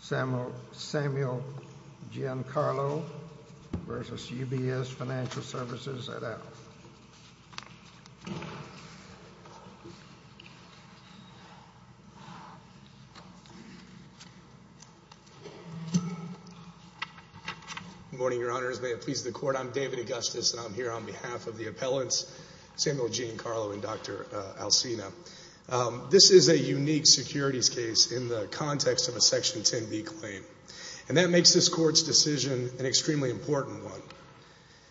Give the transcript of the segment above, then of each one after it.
Samuel Giancarlo v. UBS Financial Services at Al. Good morning, Your Honors. May it please the Court, I'm David Augustus and I'm here on behalf of the appellants, Samuel Giancarlo and Dr. Alsina. This is a unique securities case in the context of a Section 10B claim, and that makes this Court's decision an extremely important one.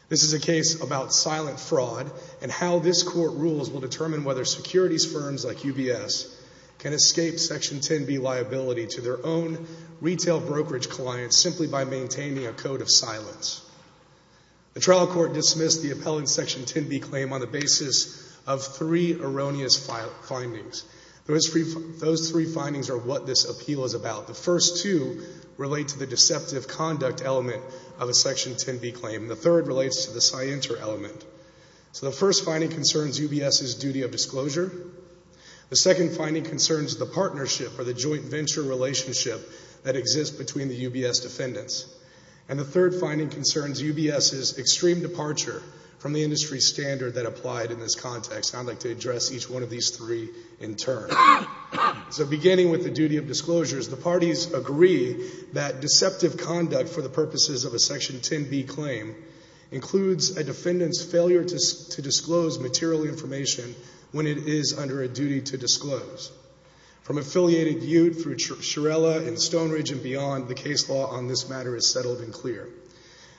This is a case about silent fraud and how this Court rules will determine whether securities firms like UBS can escape Section 10B liability to their own retail brokerage clients simply by maintaining a code of silence. The trial court dismissed the appellant's Section 10B claim on the basis of three erroneous findings. Those three findings are what this appeal is about. The first two relate to the deceptive conduct element of a Section 10B claim. The third relates to the scienter element. So the first finding concerns UBS's duty of disclosure. The second finding concerns the partnership or the joint venture relationship that exists between the UBS defendants. And the third finding concerns UBS's extreme departure from the industry standard that applied in this context. And I'd like to address each one of these three in turn. So beginning with the duty of disclosures, the parties agree that deceptive conduct for the purposes of a Section 10B claim includes a defendant's failure to disclose material information when it is under a duty to disclose. From Affiliated Ute through Shirella and Stoneridge and beyond, the case law on this matter is settled and clear.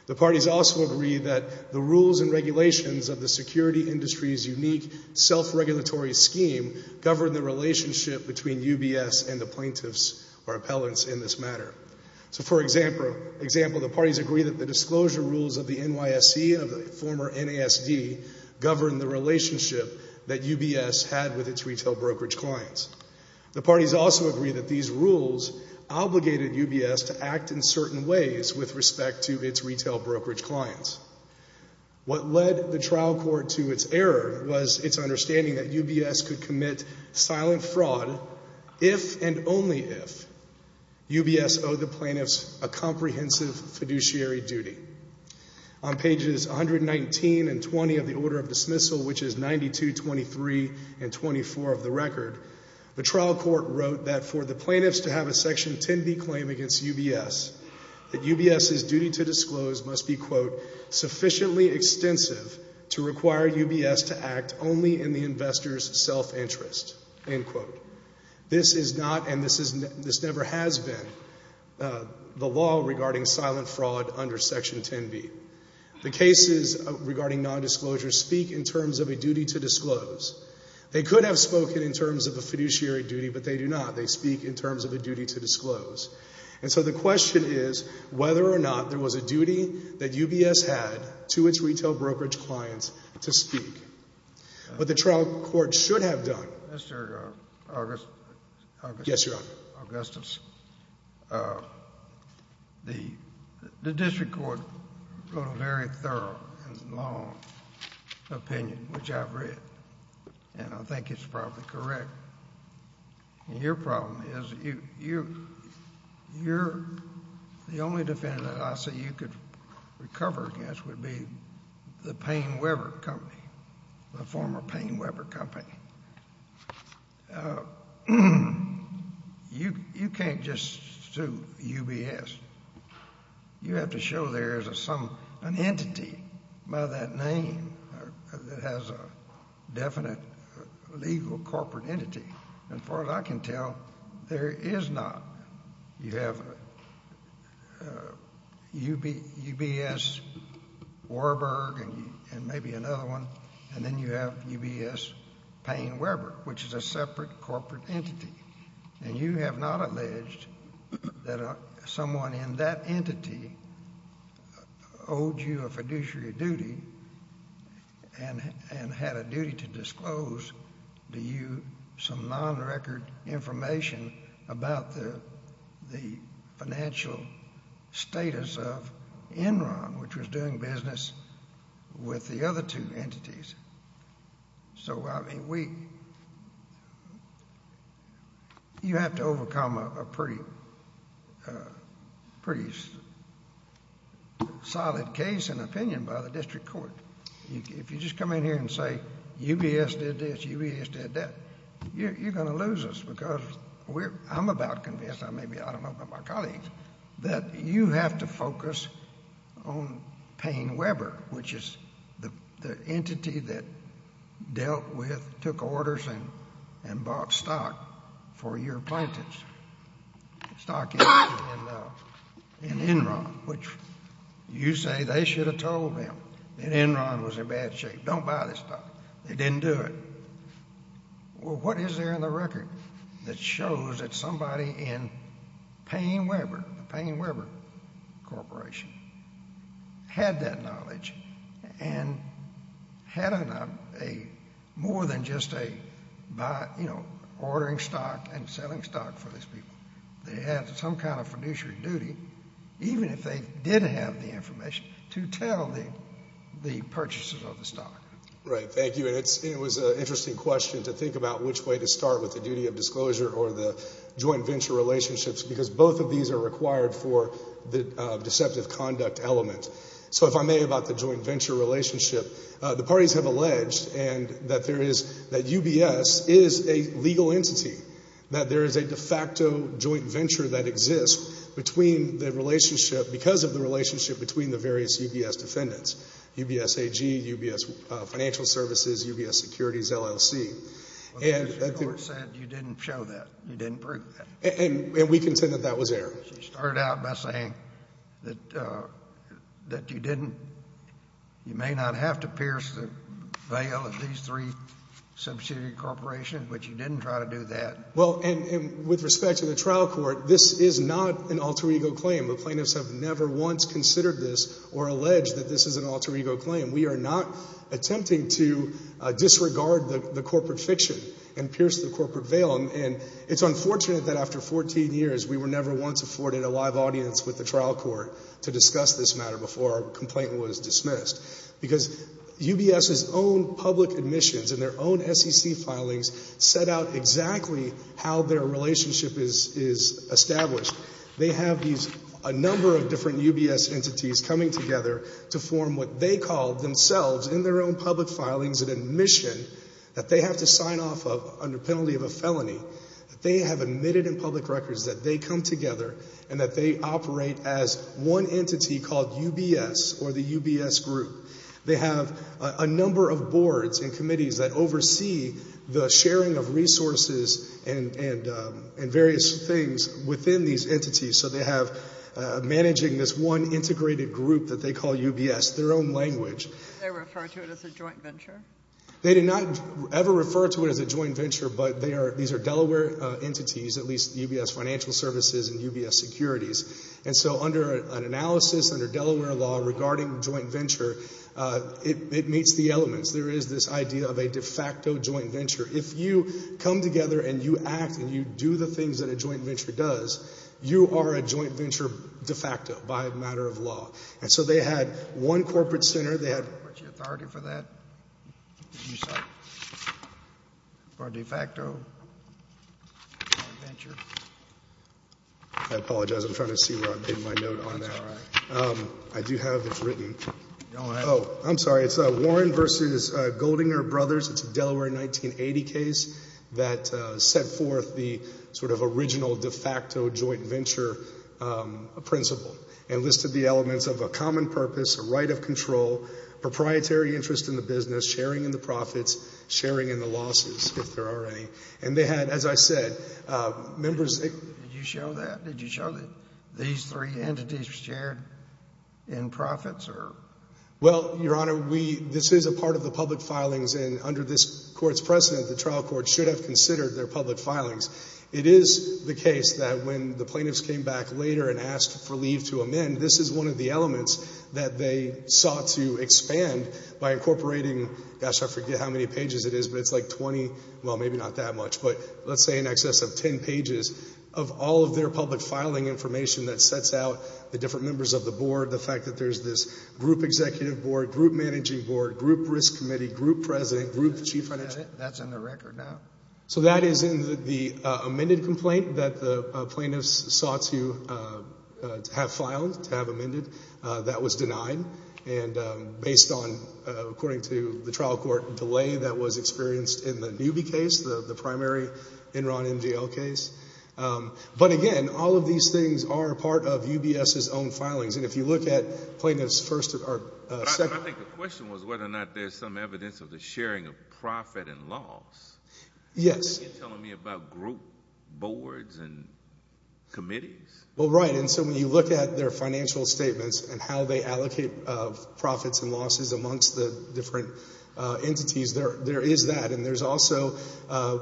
The parties also agree that the rules and regulations of the security industry's unique self-regulatory scheme govern the relationship between UBS and the plaintiffs or appellants in this matter. So for example, the parties agree that the disclosure rules of the NYSE of the former NASD govern the relationship that UBS had with its retail brokerage clients. The parties also agree that these rules obligated UBS to act in certain ways with respect to its retail brokerage clients. What led the trial court to its error was its understanding that UBS could commit silent fraud if and only if UBS owed the plaintiffs a comprehensive fiduciary duty. On pages 119 and 20 of the order of dismissal, which is 92, 23, and 24 of the record, the trial court wrote that for the plaintiffs to have a Section 10B claim against UBS, that UBS's duty to disclose must be, quote, to require UBS to act only in the investor's self-interest, end quote. This is not and this never has been the law regarding silent fraud under Section 10B. The cases regarding nondisclosure speak in terms of a duty to disclose. They could have spoken in terms of a fiduciary duty, but they do not. And so the question is whether or not there was a duty that UBS had to its retail brokerage clients to speak. What the trial court should have done. Mr. Augustus, the district court wrote a very thorough and long opinion, which I've read, and I think it's probably correct. And your problem is you're the only defendant that I see you could recover against would be the Payne Weber Company, the former Payne Weber Company. You can't just sue UBS. You have to show there is an entity by that name that has a definite legal corporate entity. As far as I can tell, there is not. You have UBS Warburg and maybe another one, and then you have UBS Payne Weber, which is a separate corporate entity. And you have not alleged that someone in that entity owed you a fiduciary duty and had a duty to disclose to you some non-record information about the financial status of Enron, which was doing business with the other two entities. So, I mean, you have to overcome a pretty solid case and opinion by the district court. If you just come in here and say UBS did this, UBS did that, you're going to lose us because I'm about convinced, maybe I don't know about my colleagues, that you have to focus on Payne Weber, which is the entity that dealt with, took orders and bought stock for your plaintiffs, stock in Enron, which you say they should have told them that Enron was in bad shape. Don't buy this stock. They didn't do it. Well, what is there in the record that shows that somebody in Payne Weber, the Payne Weber Corporation, had that knowledge and had more than just ordering stock and selling stock for these people? They had some kind of fiduciary duty, even if they didn't have the information, to tell the purchasers of the stock. Right. Thank you. And it was an interesting question to think about which way to start with the duty of disclosure or the joint venture relationships because both of these are required for the deceptive conduct element. So, if I may, about the joint venture relationship, the parties have alleged that UBS is a legal entity, that there is a de facto joint venture that exists because of the relationship between the various UBS defendants. UBS AG, UBS Financial Services, UBS Securities, LLC. Well, the judge said you didn't show that. You didn't prove that. And we contend that that was error. She started out by saying that you didn't, you may not have to pierce the veil of these three subsidiary corporations, but you didn't try to do that. Well, and with respect to the trial court, this is not an alter ego claim. The plaintiffs have never once considered this or alleged that this is an alter ego claim. We are not attempting to disregard the corporate fiction and pierce the corporate veil. And it's unfortunate that after 14 years, we were never once afforded a live audience with the trial court to discuss this matter before our complaint was dismissed. Because UBS's own public admissions and their own SEC filings set out exactly how their relationship is established. They have these, a number of different UBS entities coming together to form what they call themselves in their own public filings an admission that they have to sign off of under penalty of a felony. They have admitted in public records that they come together and that they operate as one entity called UBS or the UBS group. They have a number of boards and committees that oversee the sharing of resources and various things within these entities. So they have managing this one integrated group that they call UBS, their own language. Did they refer to it as a joint venture? They did not ever refer to it as a joint venture, but these are Delaware entities, at least UBS financial services and UBS securities. And so under an analysis, under Delaware law regarding joint venture, it meets the elements. There is this idea of a de facto joint venture. If you come together and you act and you do the things that a joint venture does, you are a joint venture de facto by a matter of law. And so they had one corporate center, they had, what's the authority for that? For a de facto joint venture? I apologize. I'm trying to see where I put my note on that. I do have it written. Oh, I'm sorry. It's Warren versus Goldinger Brothers. It's a Delaware 1980 case that set forth the sort of original de facto joint venture principle and listed the elements of a common purpose, a right of control, proprietary interest in the business, sharing in the profits, sharing in the losses, if there are any. And they had, as I said, members. Did you show that? Did you show that these three entities shared in profits? Well, Your Honor, this is a part of the public filings, and under this court's precedent the trial court should have considered their public filings. It is the case that when the plaintiffs came back later and asked for leave to amend, this is one of the elements that they sought to expand by incorporating, gosh, I forget how many pages it is, but it's like 20, well, maybe not that much, but let's say in excess of 10 pages, of all of their public filing information that sets out the different members of the board, the fact that there's this group executive board, group managing board, group risk committee, group president, group chief financial officer. That's in the record now. So that is in the amended complaint that the plaintiffs sought to have filed, to have amended. That was denied. And based on, according to the trial court, delay that was experienced in the Newby case, the primary Enron MGL case. But, again, all of these things are part of UBS's own filings. And if you look at plaintiffs first or second. But I think the question was whether or not there's some evidence of the sharing of profit and loss. Yes. Are you telling me about group boards and committees? Well, right, and so when you look at their financial statements and how they allocate profits and losses amongst the different entities, there is that. And there's also,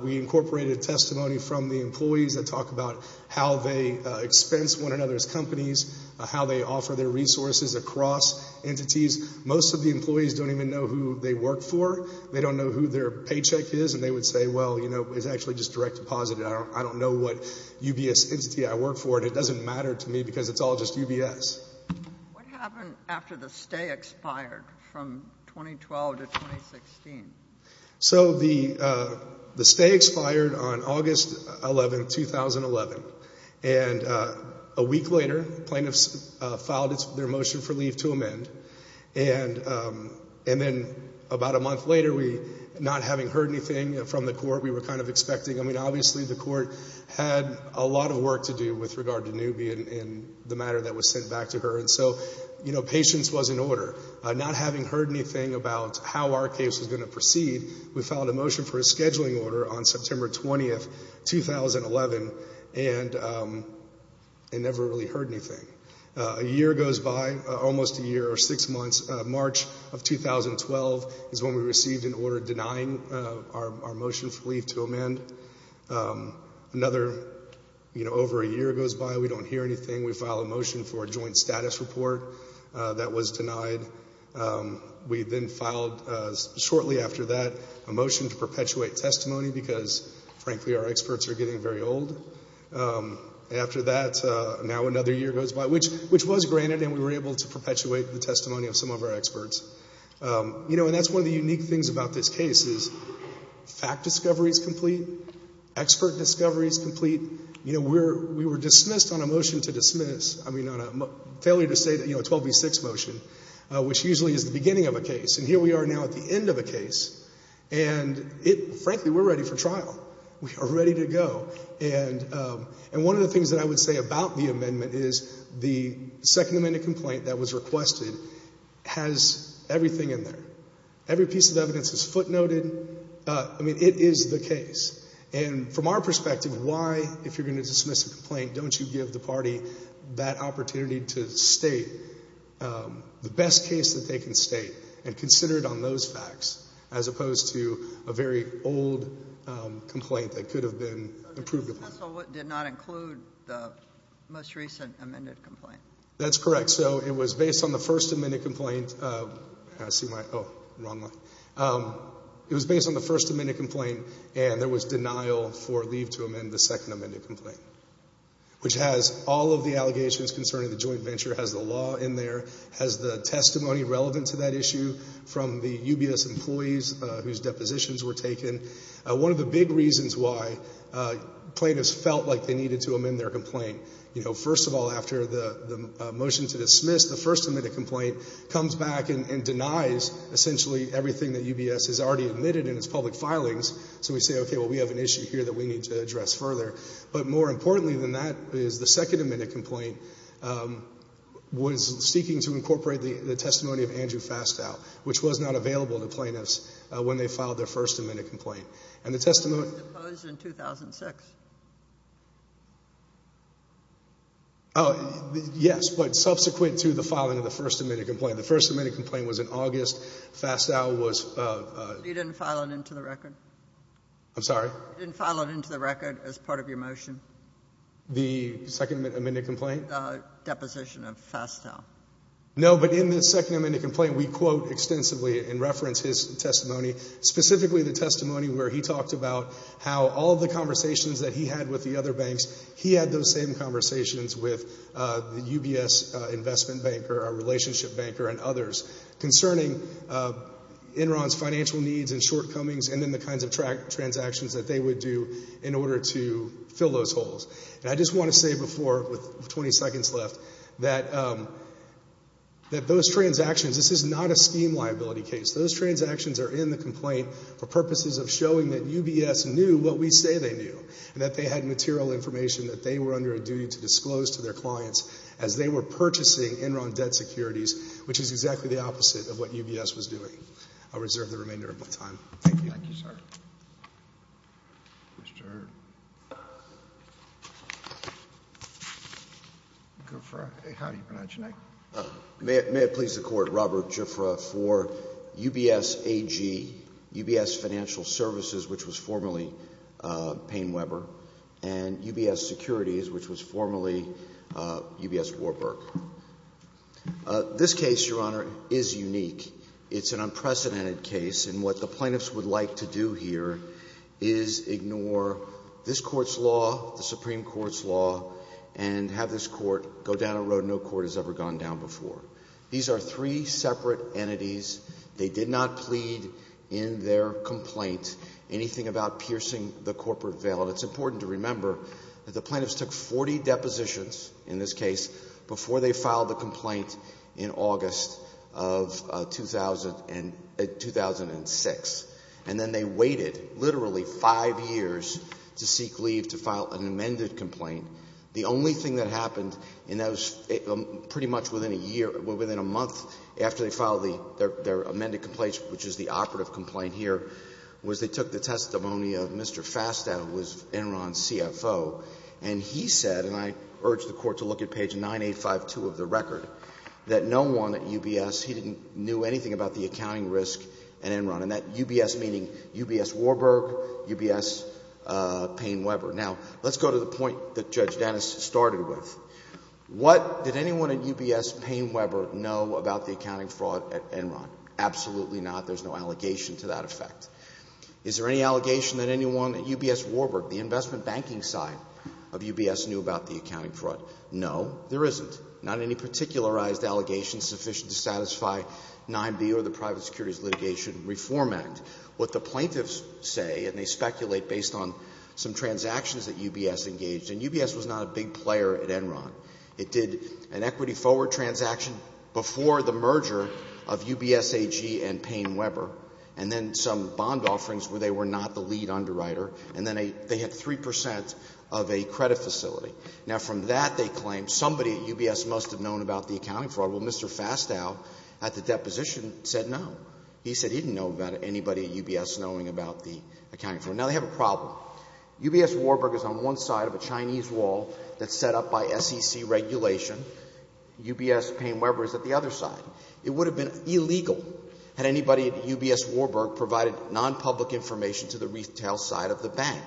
we incorporated testimony from the employees that talk about how they expense one another's companies, how they offer their resources across entities. Most of the employees don't even know who they work for. They don't know who their paycheck is. And they would say, well, you know, it's actually just direct deposit. I don't know what UBS entity I work for, and it doesn't matter to me because it's all just UBS. What happened after the stay expired from 2012 to 2016? So the stay expired on August 11, 2011. And a week later, plaintiffs filed their motion for leave to amend. And then about a month later, not having heard anything from the court, we were kind of expecting. I mean, obviously the court had a lot of work to do with regard to Newby and the matter that was sent back to her. And so, you know, patience was in order. Not having heard anything about how our case was going to proceed, we filed a motion for a scheduling order on September 20, 2011, and never really heard anything. A year goes by, almost a year or six months. March of 2012 is when we received an order denying our motion for leave to amend. Another, you know, over a year goes by. We don't hear anything. We file a motion for a joint status report. That was denied. We then filed shortly after that a motion to perpetuate testimony because, frankly, our experts are getting very old. After that, now another year goes by, which was granted, and we were able to perpetuate the testimony of some of our experts. You know, and that's one of the unique things about this case is fact discovery is complete. Expert discovery is complete. We were dismissed on a motion to dismiss, I mean, on a failure to say that, you know, 12B6 motion, which usually is the beginning of a case. And here we are now at the end of a case, and frankly, we're ready for trial. We are ready to go. And one of the things that I would say about the amendment is the Second Amendment complaint that was requested has everything in there. Every piece of evidence is footnoted. I mean, it is the case. And from our perspective, why, if you're going to dismiss a complaint, don't you give the party that opportunity to state the best case that they can state and consider it on those facts as opposed to a very old complaint that could have been approved of them? So the dismissal did not include the most recent amended complaint. That's correct. So it was based on the first amended complaint. I see my, oh, wrong line. It was based on the first amended complaint, and there was denial for leave to amend the second amended complaint, which has all of the allegations concerning the joint venture, has the law in there, has the testimony relevant to that issue from the UBS employees whose depositions were taken. One of the big reasons why plaintiffs felt like they needed to amend their complaint, you know, first of all, after the motion to dismiss, the first amended complaint comes back and denies essentially everything that UBS has already admitted in its public filings. So we say, okay, well, we have an issue here that we need to address further. But more importantly than that is the second amended complaint was seeking to incorporate the testimony of Andrew Fastow, which was not available to plaintiffs when they filed their first amended complaint. And the testimony was deposed in 2006. Oh, yes, but subsequent to the filing of the first amended complaint. The first amended complaint was in August. Fastow was. You didn't file it into the record. I'm sorry. You didn't file it into the record as part of your motion. The second amended complaint? The deposition of Fastow. No, but in the second amended complaint, we quote extensively and reference his testimony, specifically the testimony where he talked about how all the conversations that he had with the other banks, he had those same conversations with the UBS investment banker, a relationship banker, and others, concerning Enron's financial needs and shortcomings and then the kinds of transactions that they would do in order to fill those holes. And I just want to say before, with 20 seconds left, that those transactions, this is not a scheme liability case. Those transactions are in the complaint for purposes of showing that UBS knew what we say they knew and that they had material information that they were under a duty to disclose to their clients as they were purchasing Enron debt securities, which is exactly the opposite of what UBS was doing. I'll reserve the remainder of my time. Thank you. Thank you, sir. Mr. Gifford, how do you pronounce your name? May it please the Court, Robert Gifford for UBS AG, UBS Financial Services, which was formerly Payne Weber, and UBS Securities, which was formerly UBS Warburg. This case, Your Honor, is unique. It's an unprecedented case, and what the plaintiffs would like to do here is ignore this Court's law, the Supreme Court's law, and have this Court go down a road no Court has ever gone down before. These are three separate entities. They did not plead in their complaint anything about piercing the corporate veil. It's important to remember that the plaintiffs took 40 depositions in this case before they filed the complaint in August of 2006, and then they waited literally five years to seek leave to file an amended complaint. The only thing that happened, and that was pretty much within a year or within a month after they filed their amended complaint, which is the operative complaint here, was they took the testimony of Mr. Fastow, who was Enron's CFO, and he said, and I urge the Court to look at page 9852 of the record, that no one at UBS, he didn't know anything about the accounting risk at Enron, and that UBS meaning UBS Warburg, UBS Payne-Weber. Now, let's go to the point that Judge Dennis started with. What did anyone at UBS Payne-Weber know about the accounting fraud at Enron? Absolutely not. There's no allegation to that effect. Is there any allegation that anyone at UBS Warburg, the investment banking side of UBS, knew about the accounting fraud? No, there isn't. Not any particularized allegations sufficient to satisfy 9B or the Private Securities Litigation Reform Act. What the plaintiffs say, and they speculate based on some transactions that UBS engaged, and UBS was not a big player at Enron. It did an equity forward transaction before the merger of UBS AG and Payne-Weber, and then some bond offerings where they were not the lead underwriter, and then they had 3 percent of a credit facility. Now, from that they claim somebody at UBS must have known about the accounting fraud. Well, Mr. Fastow at the deposition said no. He said he didn't know about anybody at UBS knowing about the accounting fraud. Now, they have a problem. UBS Warburg is on one side of a Chinese wall that's set up by SEC regulation. UBS Payne-Weber is at the other side. It would have been illegal had anybody at UBS Warburg provided nonpublic information to the retail side of the bank,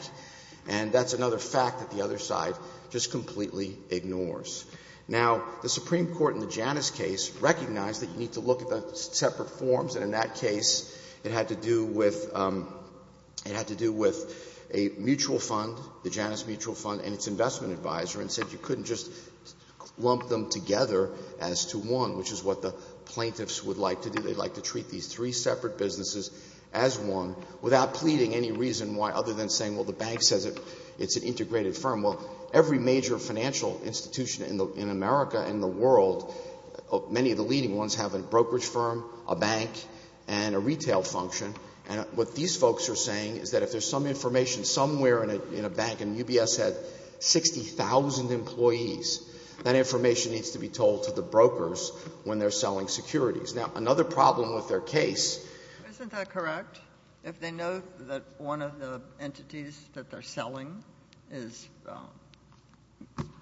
and that's another fact that the other side just completely ignores. Now, the Supreme Court in the Janus case recognized that you need to look at the separate forms, and in that case it had to do with a mutual fund, the Janus Mutual Fund and its investment advisor, and said you couldn't just lump them together as to one, which is what the plaintiffs would like to do. without pleading any reason why other than saying, well, the bank says it's an integrated firm. Well, every major financial institution in America and the world, many of the leading ones, have a brokerage firm, a bank, and a retail function, and what these folks are saying is that if there's some information somewhere in a bank and UBS had 60,000 employees, that information needs to be told to the brokers when they're selling securities. Now, another problem with their case. Isn't that correct? If they know that one of the entities that they're selling is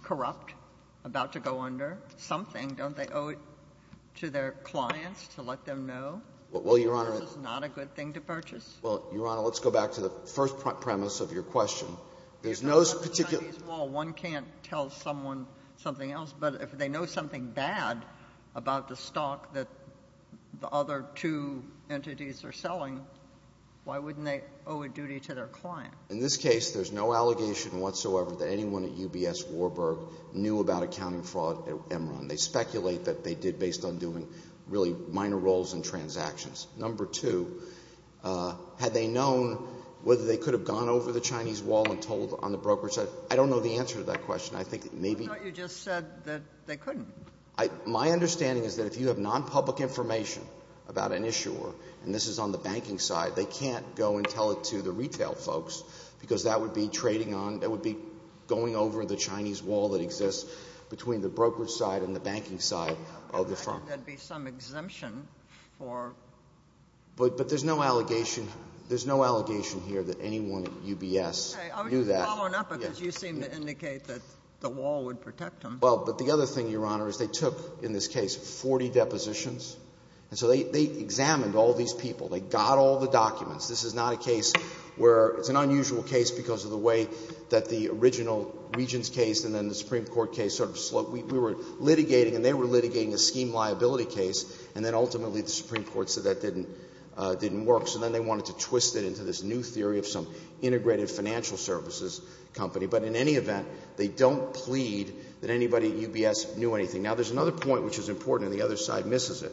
corrupt, about to go under something, don't they owe it to their clients to let them know this is not a good thing to purchase? Well, Your Honor, let's go back to the first premise of your question. There's no particular — Well, one can't tell someone something else, but if they know something bad about the stock that the other two entities are selling, why wouldn't they owe a duty to their client? In this case, there's no allegation whatsoever that anyone at UBS, Warburg, knew about accounting fraud at Enron. They speculate that they did based on doing really minor roles in transactions. Number two, had they known whether they could have gone over the Chinese wall and told on the brokerage side? I don't know the answer to that question. I think maybe — I thought you just said that they couldn't. My understanding is that if you have nonpublic information about an issuer, and this is on the banking side, they can't go and tell it to the retail folks because that would be trading on — that would be going over the Chinese wall that exists between the brokerage side and the banking side of the firm. I think there'd be some exemption for — But there's no allegation — there's no allegation here that anyone at UBS knew that. Okay. I was following up because you seemed to indicate that the wall would protect them. Well, but the other thing, Your Honor, is they took, in this case, 40 depositions, and so they examined all these people. They got all the documents. This is not a case where — it's an unusual case because of the way that the original Regents case and then the Supreme Court case sort of slowed — we were litigating and they were litigating a scheme liability case, and then ultimately the Supreme Court said that didn't work. So then they wanted to twist it into this new theory of some integrated financial services company. But in any event, they don't plead that anybody at UBS knew anything. Now, there's another point which is important, and the other side misses it.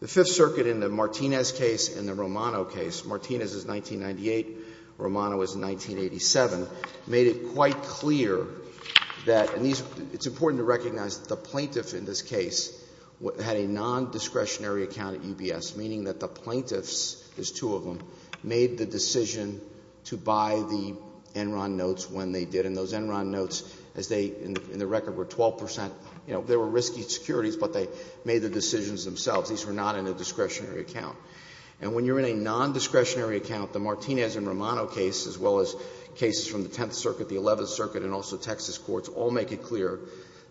The Fifth Circuit in the Martinez case and the Romano case — Martinez is 1998, Romano is 1987 — made it quite clear that — and it's important to recognize that the plaintiff in this case had a nondiscretionary account at UBS, meaning that the plaintiffs, there's two of them, made the decision to buy the Enron notes when they did. And those Enron notes, as they — in the record, were 12 percent — you know, they were risky securities, but they made the decisions themselves. These were not in a discretionary account. And when you're in a nondiscretionary account, the Martinez and Romano case, as well as cases from the Tenth Circuit, the Eleventh Circuit, and also Texas courts, all make it clear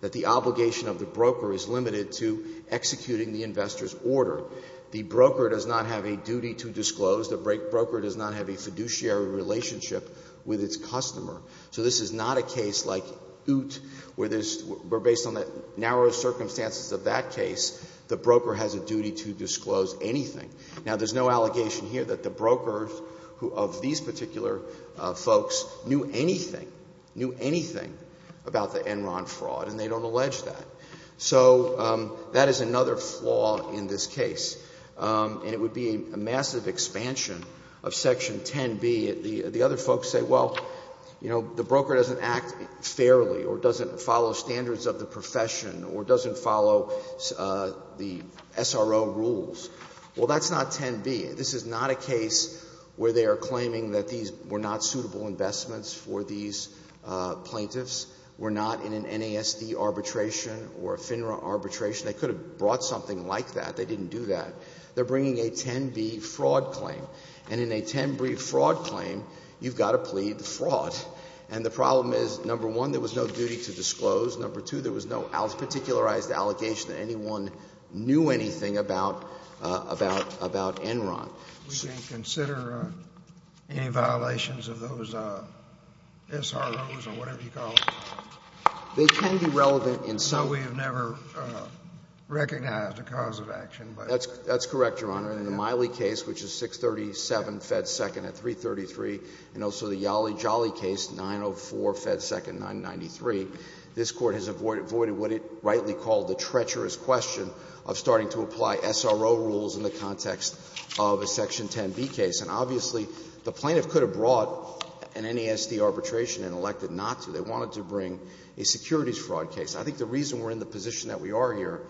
that the obligation of the broker is limited to executing the investor's order. The broker does not have a duty to disclose. The broker does not have a fiduciary relationship with its customer. So this is not a case like Ute where there's — where based on the narrow circumstances of that case, the broker has a duty to disclose anything. Now, there's no allegation here that the brokers of these particular folks knew anything, knew anything about the Enron fraud, and they don't allege that. So that is another flaw in this case. And it would be a massive expansion of Section 10b. The other folks say, well, you know, the broker doesn't act fairly or doesn't follow standards of the profession or doesn't follow the SRO rules. Well, that's not 10b. This is not a case where they are claiming that these were not suitable investments for these plaintiffs, were not in an NASD arbitration, or a FINRA arbitration. They could have brought something like that. They didn't do that. They're bringing a 10b fraud claim. And in a 10b fraud claim, you've got to plead the fraud. And the problem is, number one, there was no duty to disclose. Number two, there was no particularized allegation that anyone knew anything about Enron. We didn't consider any violations of those SROs or whatever you call them. They can be relevant in some way. We have never recognized a cause of action. That's correct, Your Honor. In the Miley case, which is 637 Fed Second at 333, and also the Yale Jolly case, 904 Fed Second 993, this Court has avoided what it rightly called the treacherous question of starting to apply SRO rules in the context of a Section 10b case. And obviously, the plaintiff could have brought an NASD arbitration and elected not to. They wanted to bring a securities fraud case. I think the reason we're in the position that we are here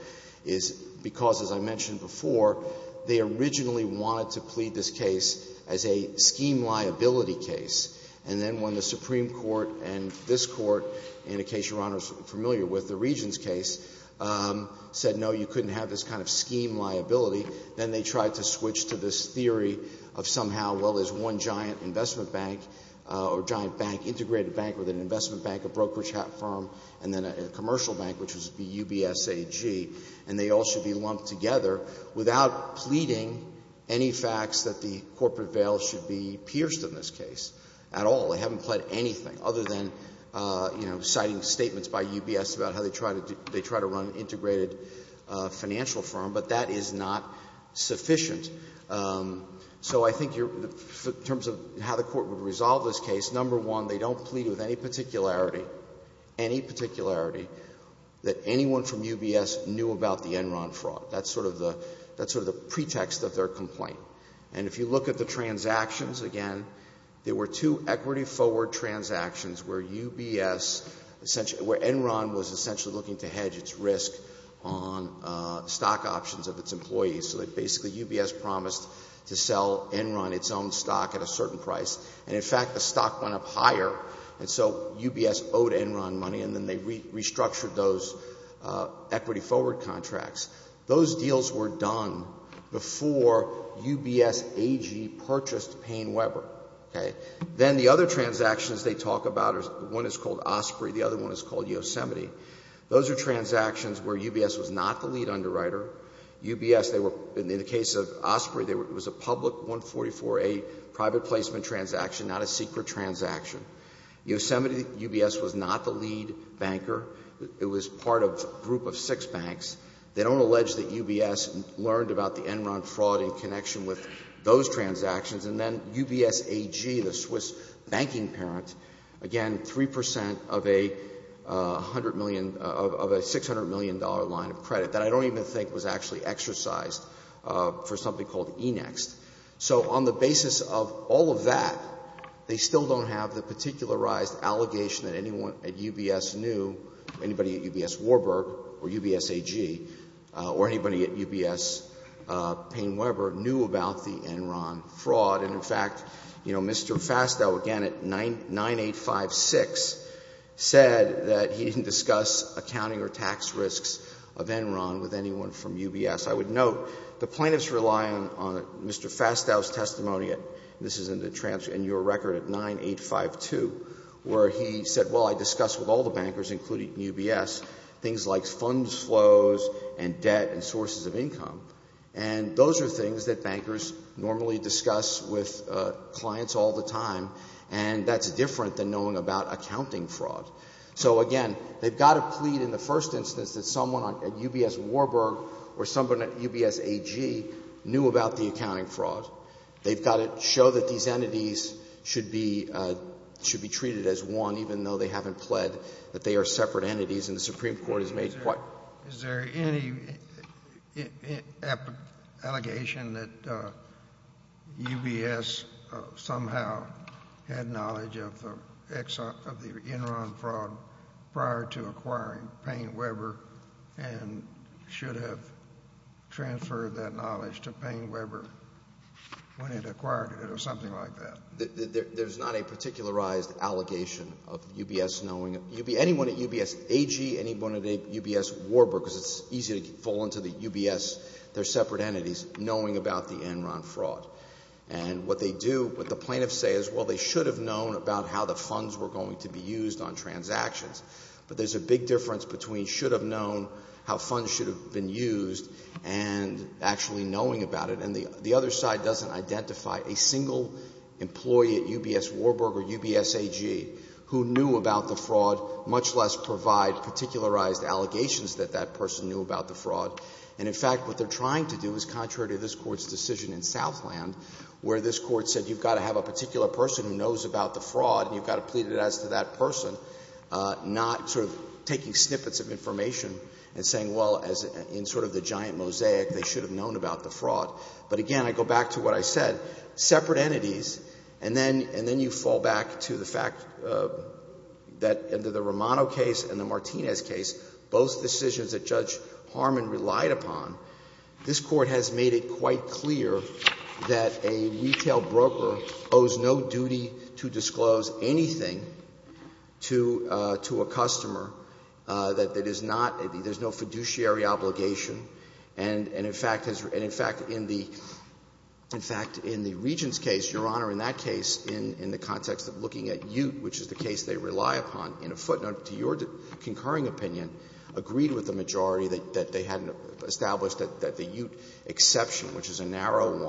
is because, as I mentioned before, they originally wanted to plead this case as a scheme liability case. And then when the Supreme Court and this Court, in a case Your Honor is familiar with, the Regents case, said no, you couldn't have this kind of scheme liability, then they tried to switch to this theory of somehow, well, there's one giant investment bank or giant bank, integrated bank with an investment bank, a brokerage firm, and then a commercial bank, which would be UBS AG, and they all should be lumped together without pleading any facts that the corporate veil should be pierced in this case at all. They haven't pled anything other than, you know, citing statements by UBS about how they try to run an integrated financial firm. But that is not sufficient. So I think in terms of how the Court would resolve this case, number one, they don't plead with any particularity, any particularity, that anyone from UBS knew about the Enron fraud. That's sort of the pretext of their complaint. And if you look at the transactions, again, there were two equity-forward transactions where UBS, where Enron was essentially looking to hedge its risk on stock options of its employees, so that basically UBS promised to sell Enron its own stock at a certain price. And in fact, the stock went up higher, and so UBS owed Enron money, and then they restructured those equity-forward contracts. Those deals were done before UBS AG purchased Payne Webber, okay? Then the other transactions they talk about, one is called Osprey, the other one is called Yosemite. Those are transactions where UBS was not the lead underwriter. UBS, in the case of Osprey, it was a public 144A private placement transaction, not a secret transaction. Yosemite, UBS was not the lead banker. It was part of a group of six banks. They don't allege that UBS learned about the Enron fraud in connection with those transactions. And then UBS AG, the Swiss banking parent, again, 3 percent of a $100 million of a $600 million line of credit that I don't even think was actually exercised for something called Enext. So on the basis of all of that, they still don't have the particularized allegation that anyone at UBS knew, anybody at UBS Warburg or UBS AG or anybody at UBS Payne Webber knew about the Enron fraud. And, in fact, you know, Mr. Fastow, again, at 9856, said that he didn't discuss accounting or tax risks of Enron with anyone from UBS. I would note the plaintiffs rely on Mr. Fastow's testimony, and this is in your record at 9852, where he said, well, I discussed with all the bankers, including UBS, things like funds flows and debt and sources of income, and those are things that bankers normally discuss with clients all the time, and that's different than knowing about accounting fraud. So, again, they've got to plead in the first instance that someone at UBS Warburg or someone at UBS AG knew about the accounting fraud. They've got to show that these entities should be treated as one, even though they haven't pled that they are separate entities, and the Supreme Court has made quite Is there any allegation that UBS somehow had knowledge of the Enron fraud prior to acquiring Payne Webber and should have transferred that knowledge to Payne Webber when it acquired it or something like that? There's not a particularized allegation of UBS knowing. Anyone at UBS AG, anyone at UBS Warburg, because it's easy to fall into UBS, they're separate entities, knowing about the Enron fraud, and what they do, what the plaintiffs say is, well, they should have known about how the funds were going to be used on transactions, but there's a big difference between should have known how funds should have been used and actually knowing about it, and the other side doesn't identify a single employee at UBS Warburg or UBS AG who knew about the fraud, much less provide particularized allegations that that person knew about the fraud. And, in fact, what they're trying to do is contrary to this Court's decision in Southland, where this Court said you've got to have a particular person who knows about the fraud and you've got to plead it as to that person, not sort of taking snippets of information and saying, well, in sort of the giant mosaic, they should have known about the fraud. But, again, I go back to what I said. Separate entities, and then you fall back to the fact that under the Romano case and the Martinez case, both decisions that Judge Harmon relied upon, this Court has made it quite clear that a retail broker owes no duty to disclose anything to a customer that is not – there's no fiduciary obligation. And, in fact, in the – in fact, in the Regents case, Your Honor, in that case, in the context of looking at Ute, which is the case they rely upon, in a footnote, to your concurring opinion, agreed with the majority that they had established that the Ute exception, which is a narrow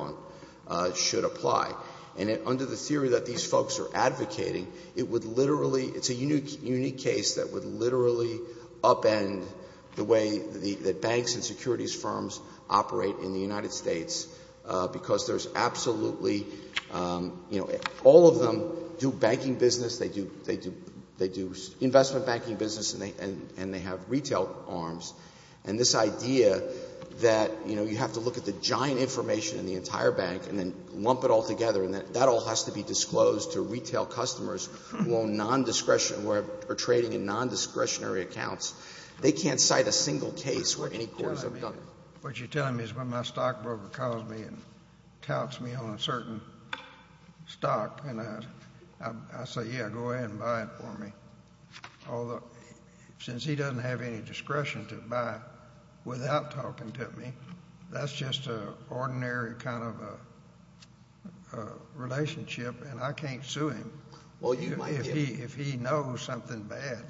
one, should apply. And under the theory that these folks are advocating, it would literally – it's a unique case that would literally upend the way that banks and securities firms operate in the United States, because there's absolutely – you know, all of them do banking business, they do investment banking business, and they have retail arms. And this idea that, you know, you have to look at the giant information in the entire bank and then lump it all together, and that all has to be disclosed to retail customers who own non-discretionary – who are trading in non-discretionary accounts, they can't cite a single case where any courts have done it. What you're telling me is when my stockbroker calls me and touts me on a certain stock, and I say, yeah, go ahead and buy it for me. Although, since he doesn't have any discretion to buy without talking to me, that's just an ordinary kind of a relationship, and I can't sue him if he knows something bad.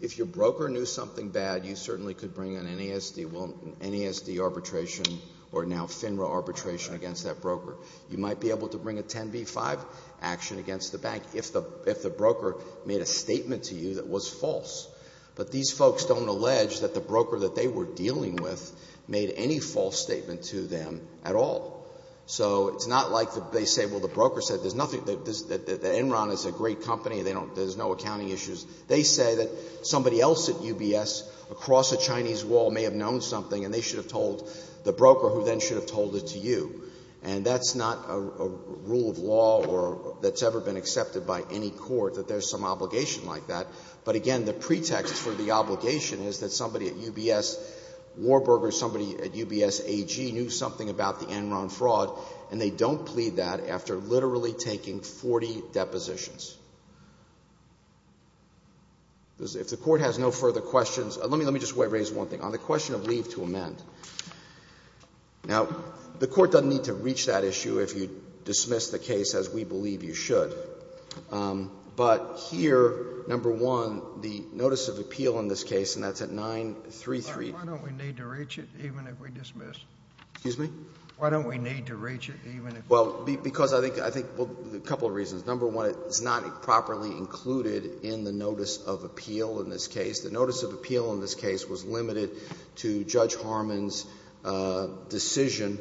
If your broker knew something bad, you certainly could bring an NASD arbitration or now FINRA arbitration against that broker. You might be able to bring a 10b-5 action against the bank if the broker made a statement to you that was false. But these folks don't allege that the broker that they were dealing with made any false statement to them at all. So it's not like they say, well, the broker said there's nothing – that Enron is a great company, there's no accounting issues. They say that somebody else at UBS across a Chinese wall may have known something and they should have told the broker who then should have told it to you. And that's not a rule of law that's ever been accepted by any court, that there's some obligation like that. But again, the pretext for the obligation is that somebody at UBS – Warburger or somebody at UBS AG – knew something about the Enron fraud and they don't plead that after literally taking 40 depositions. If the court has no further questions – let me just raise one thing. On the question of leave to amend. Now, the court doesn't need to reach that issue if you dismiss the case as we believe you should. But here, number one, the notice of appeal in this case, and that's at 933 – Why don't we need to reach it even if we dismiss? Excuse me? Why don't we need to reach it even if – Well, because I think – well, a couple of reasons. Number one, it's not properly included in the notice of appeal in this case. The notice of appeal in this case was limited to Judge Harmon's decision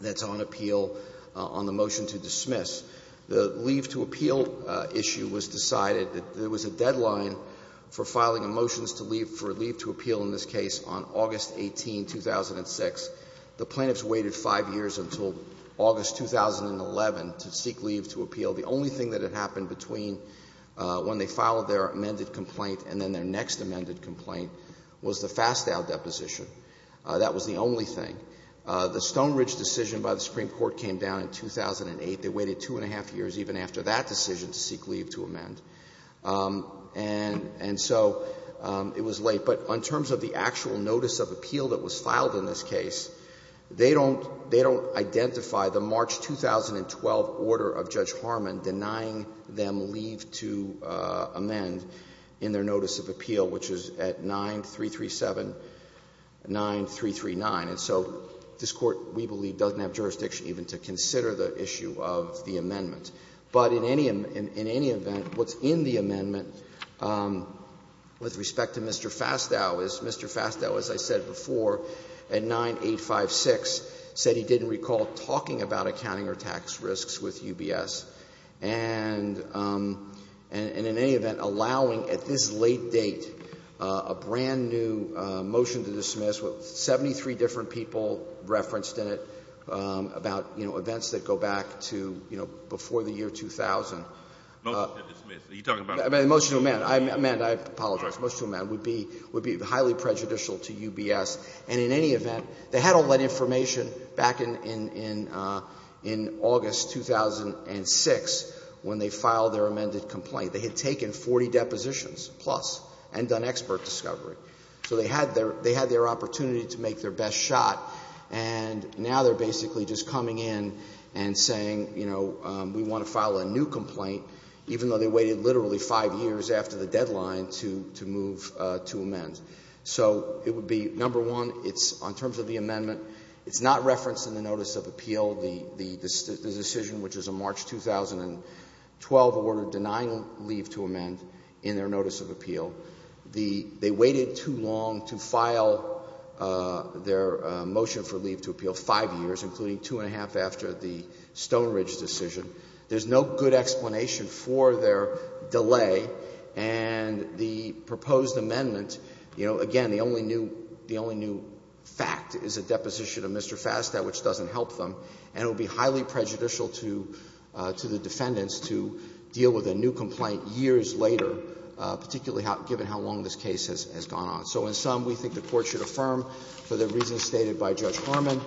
that's on appeal on the motion to dismiss. The leave to appeal issue was decided – there was a deadline for filing a motion for leave to appeal in this case on August 18, 2006. The plaintiffs waited five years until August 2011 to seek leave to appeal. The only thing that had happened between when they filed their amended complaint and then their next amended complaint was the Fastow deposition. That was the only thing. The Stonebridge decision by the Supreme Court came down in 2008. They waited two and a half years even after that decision to seek leave to amend. And so it was late. But in terms of the actual notice of appeal that was filed in this case, they don't identify the March 2012 order of Judge Harmon denying them leave to amend in their notice of appeal, which is at 9337, 9339. And so this Court, we believe, doesn't have jurisdiction even to consider the issue of the amendment. But in any event, what's in the amendment with respect to Mr. Fastow is Mr. Fastow, as I said before, at 9856, said he didn't recall talking about accounting or tax risks with UBS. And in any event, allowing at this late date a brand-new motion to dismiss with 73 different people referenced in it about, you know, events that go back to, you know, before the year 2000. Motion to dismiss? Are you talking about? A motion to amend. I apologize. Motion to amend would be highly prejudicial to UBS. And in any event, they had all that information back in August 2006 when they filed their amended complaint. They had taken 40 depositions plus and done expert discovery. So they had their opportunity to make their best shot, and now they're basically just coming in and saying, you know, we want to file a new complaint, even though they waited literally five years after the deadline to move to amend. So it would be, number one, it's on terms of the amendment, it's not referenced in the notice of appeal, the decision which is a March 2012 order denying leave to amend in their notice of appeal. They waited too long to file their motion for leave to appeal, five years, including two and a half after the Stone Ridge decision. There's no good explanation for their delay. And the proposed amendment, you know, again, the only new fact is a deposition of Mr. Fastow, which doesn't help them. And it would be highly prejudicial to the defendants to deal with a new complaint years later, particularly given how long this case has gone on. So in sum, we think the Court should affirm, for the reasons stated by Judge Harmon,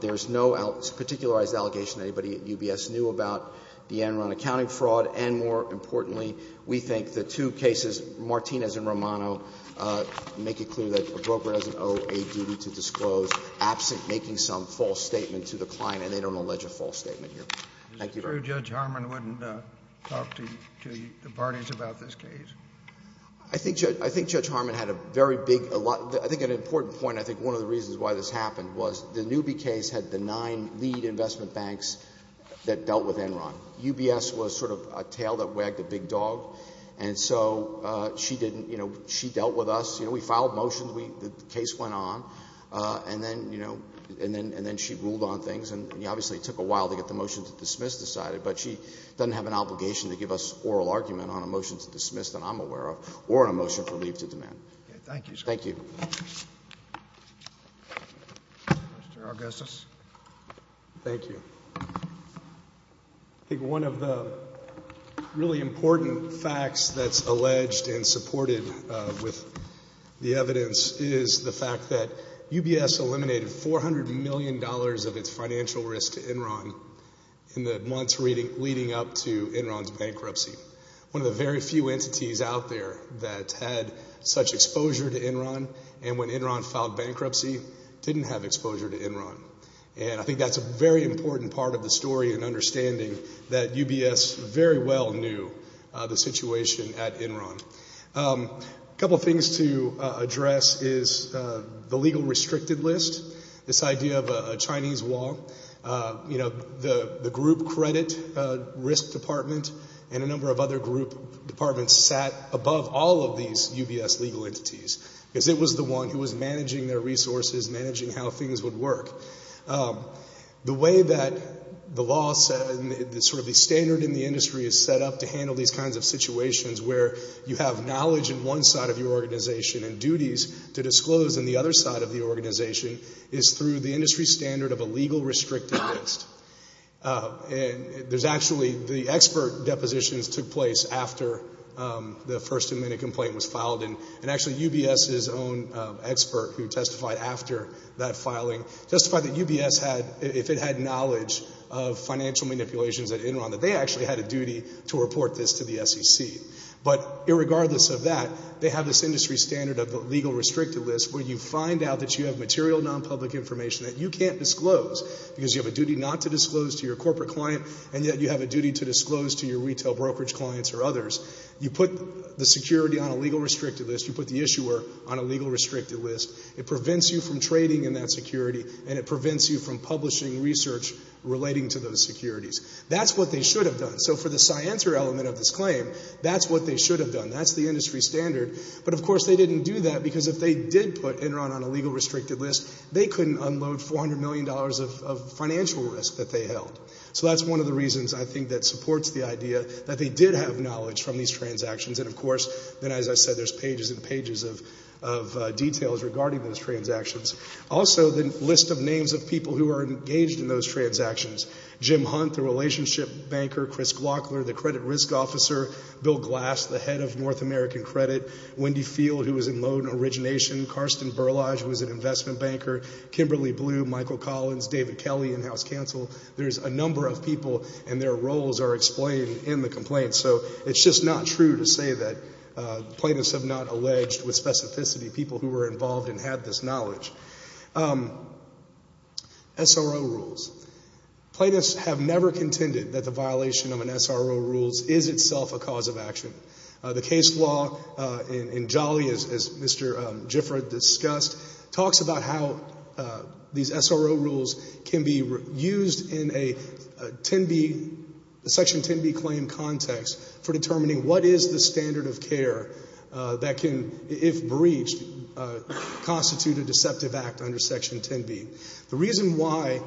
there's no particularized allegation anybody at UBS knew about the Enron accounting fraud, and more importantly, we think the two cases, Martinez and Romano, make it clear that a broker doesn't owe a duty to disclose absent making some false statement to the client, and they don't allege a false statement here. Thank you, Your Honor. So Judge Harmon wouldn't talk to the parties about this case? I think Judge Harmon had a very big, I think an important point, I think one of the reasons why this happened was the Newby case had the nine lead investment banks that dealt with Enron. UBS was sort of a tail that wagged a big dog. And so she didn't, you know, she dealt with us. You know, we filed motions. The case went on. And then, you know, and then she ruled on things. And it obviously took a while to get the motion to dismiss decided, but she doesn't have an obligation to give us oral argument on a motion to dismiss that I'm aware of or a motion for leave to demand. Thank you, sir. Thank you. Mr. Augustus. Thank you. I think one of the really important facts that's alleged and supported with the financial risk to Enron in the months leading up to Enron's bankruptcy, one of the very few entities out there that had such exposure to Enron and when Enron filed bankruptcy didn't have exposure to Enron. And I think that's a very important part of the story and understanding that UBS very well knew the situation at Enron. A couple of things to address is the legal restricted list, this idea of a Chinese law. You know, the group credit risk department and a number of other group departments sat above all of these UBS legal entities because it was the one who was managing their resources, managing how things would work. The way that the law set and sort of the standard in the industry is set up to handle these kinds of situations where you have knowledge in one side of your organization and duties to disclose in the other side of the organization is through the industry standard of a legal restricted list. And there's actually the expert depositions took place after the first amendment complaint was filed and actually UBS's own expert who testified after that filing testified that UBS had, if it had knowledge of financial manipulations at Enron, that they actually had a duty to report this to the SEC. But irregardless of that, they have this industry standard of the legal restricted list where you find out that you have material non-public information that you can't disclose because you have a duty not to disclose to your corporate client and yet you have a duty to disclose to your retail brokerage clients or others. You put the security on a legal restricted list. You put the issuer on a legal restricted list. It prevents you from trading in that security and it prevents you from publishing research relating to those securities. That's what they should have done. So for the scienter element of this claim, that's what they should have done. That's the industry standard. But of course they didn't do that because if they did put Enron on a legal restricted list, they couldn't unload $400 million of financial risk that they held. So that's one of the reasons I think that supports the idea that they did have knowledge from these transactions. And of course, then as I said, there's pages and pages of details regarding those transactions. Also, the list of names of people who are engaged in those transactions, Jim Hunt, the credit risk officer, Bill Glass, the head of North American Credit, Wendy Field, who was in loan origination, Karsten Berlage, who was an investment banker, Kimberly Blue, Michael Collins, David Kelly in house counsel. There's a number of people and their roles are explained in the complaint. So it's just not true to say that plaintiffs have not alleged with specificity people who were involved and had this knowledge. SRO rules. Plaintiffs have never contended that the violation of an SRO rule is itself a cause of action. The case law in Jolly, as Mr. Gifford discussed, talks about how these SRO rules can be used in a Section 10B claim context for determining what is the standard of care that can, if breached, constitute a deceptive act under Section 10B. The reason why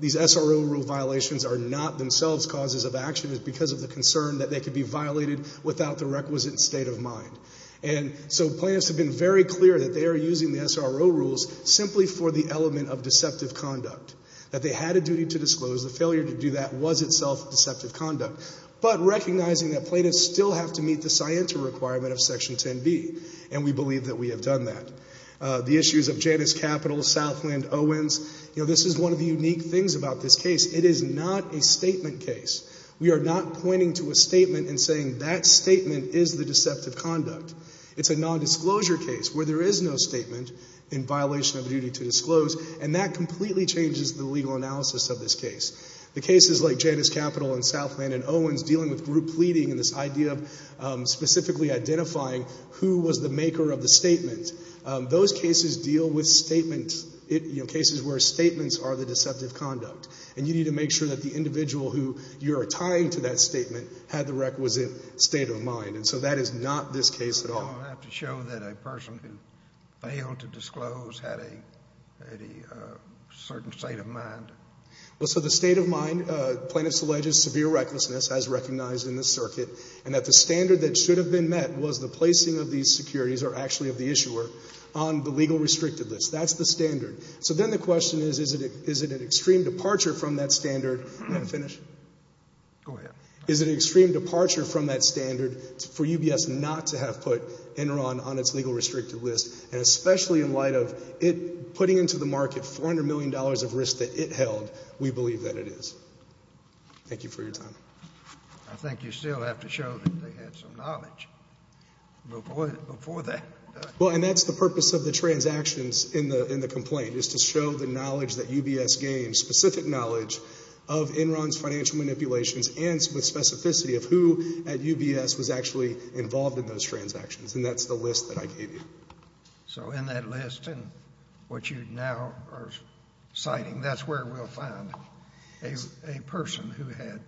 these SRO rule violations are not themselves causes of action is because of the concern that they could be violated without the requisite state of mind. And so plaintiffs have been very clear that they are using the SRO rules simply for the element of deceptive conduct, that they had a duty to disclose. The failure to do that was itself deceptive conduct. But recognizing that plaintiffs still have to meet the scienter requirement of Section 10B, and we believe that we have done that. The issues of Janus Capital, Southland, Owens, you know, this is one of the unique things about this case. It is not a statement case. We are not pointing to a statement and saying that statement is the deceptive conduct. It's a nondisclosure case where there is no statement in violation of a duty to disclose, and that completely changes the legal analysis of this case. The cases like Janus Capital and Southland and Owens dealing with group pleading and this idea of specifically identifying who was the maker of the statement, those cases deal with statements, you know, cases where statements are the deceptive conduct. And you need to make sure that the individual who you are tying to that statement had the requisite state of mind. And so that is not this case at all. I have to show that a person who failed to disclose had a certain state of mind. Well, so the state of mind, plaintiffs alleges severe recklessness as recognized in this circuit and that the standard that should have been met was the placing of these securities, or actually of the issuer, on the legal restricted list. That's the standard. So then the question is, is it an extreme departure from that standard for UBS not to have put Enron on its legal restricted list, and especially in light of it putting into the market $400 million of risk that it held, we believe that it is. Thank you for your time. I think you still have to show that they had some knowledge before that. Well, and that's the purpose of the transactions in the complaint, is to show the knowledge that UBS gained, specific knowledge of Enron's financial manipulations and with specificity of who at UBS was actually involved in those transactions. And that's the list that I gave you. So in that list and what you now are citing, that's where we'll find a person who had.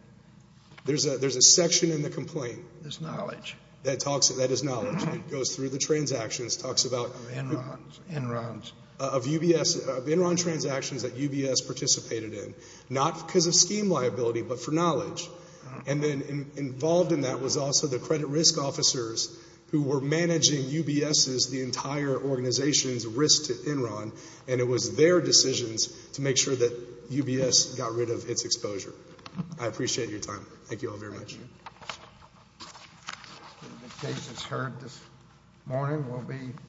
There's a section in the complaint. There's knowledge. That is knowledge. It goes through the transactions, talks about Enron's transactions that UBS participated in, not because of scheme liability, but for knowledge. And then involved in that was also the credit risk officers who were managing UBS's, the entire organization's risk to Enron. And it was their decisions to make sure that UBS got rid of its exposure. I appreciate your time. Thank you all very much. The case is heard this morning.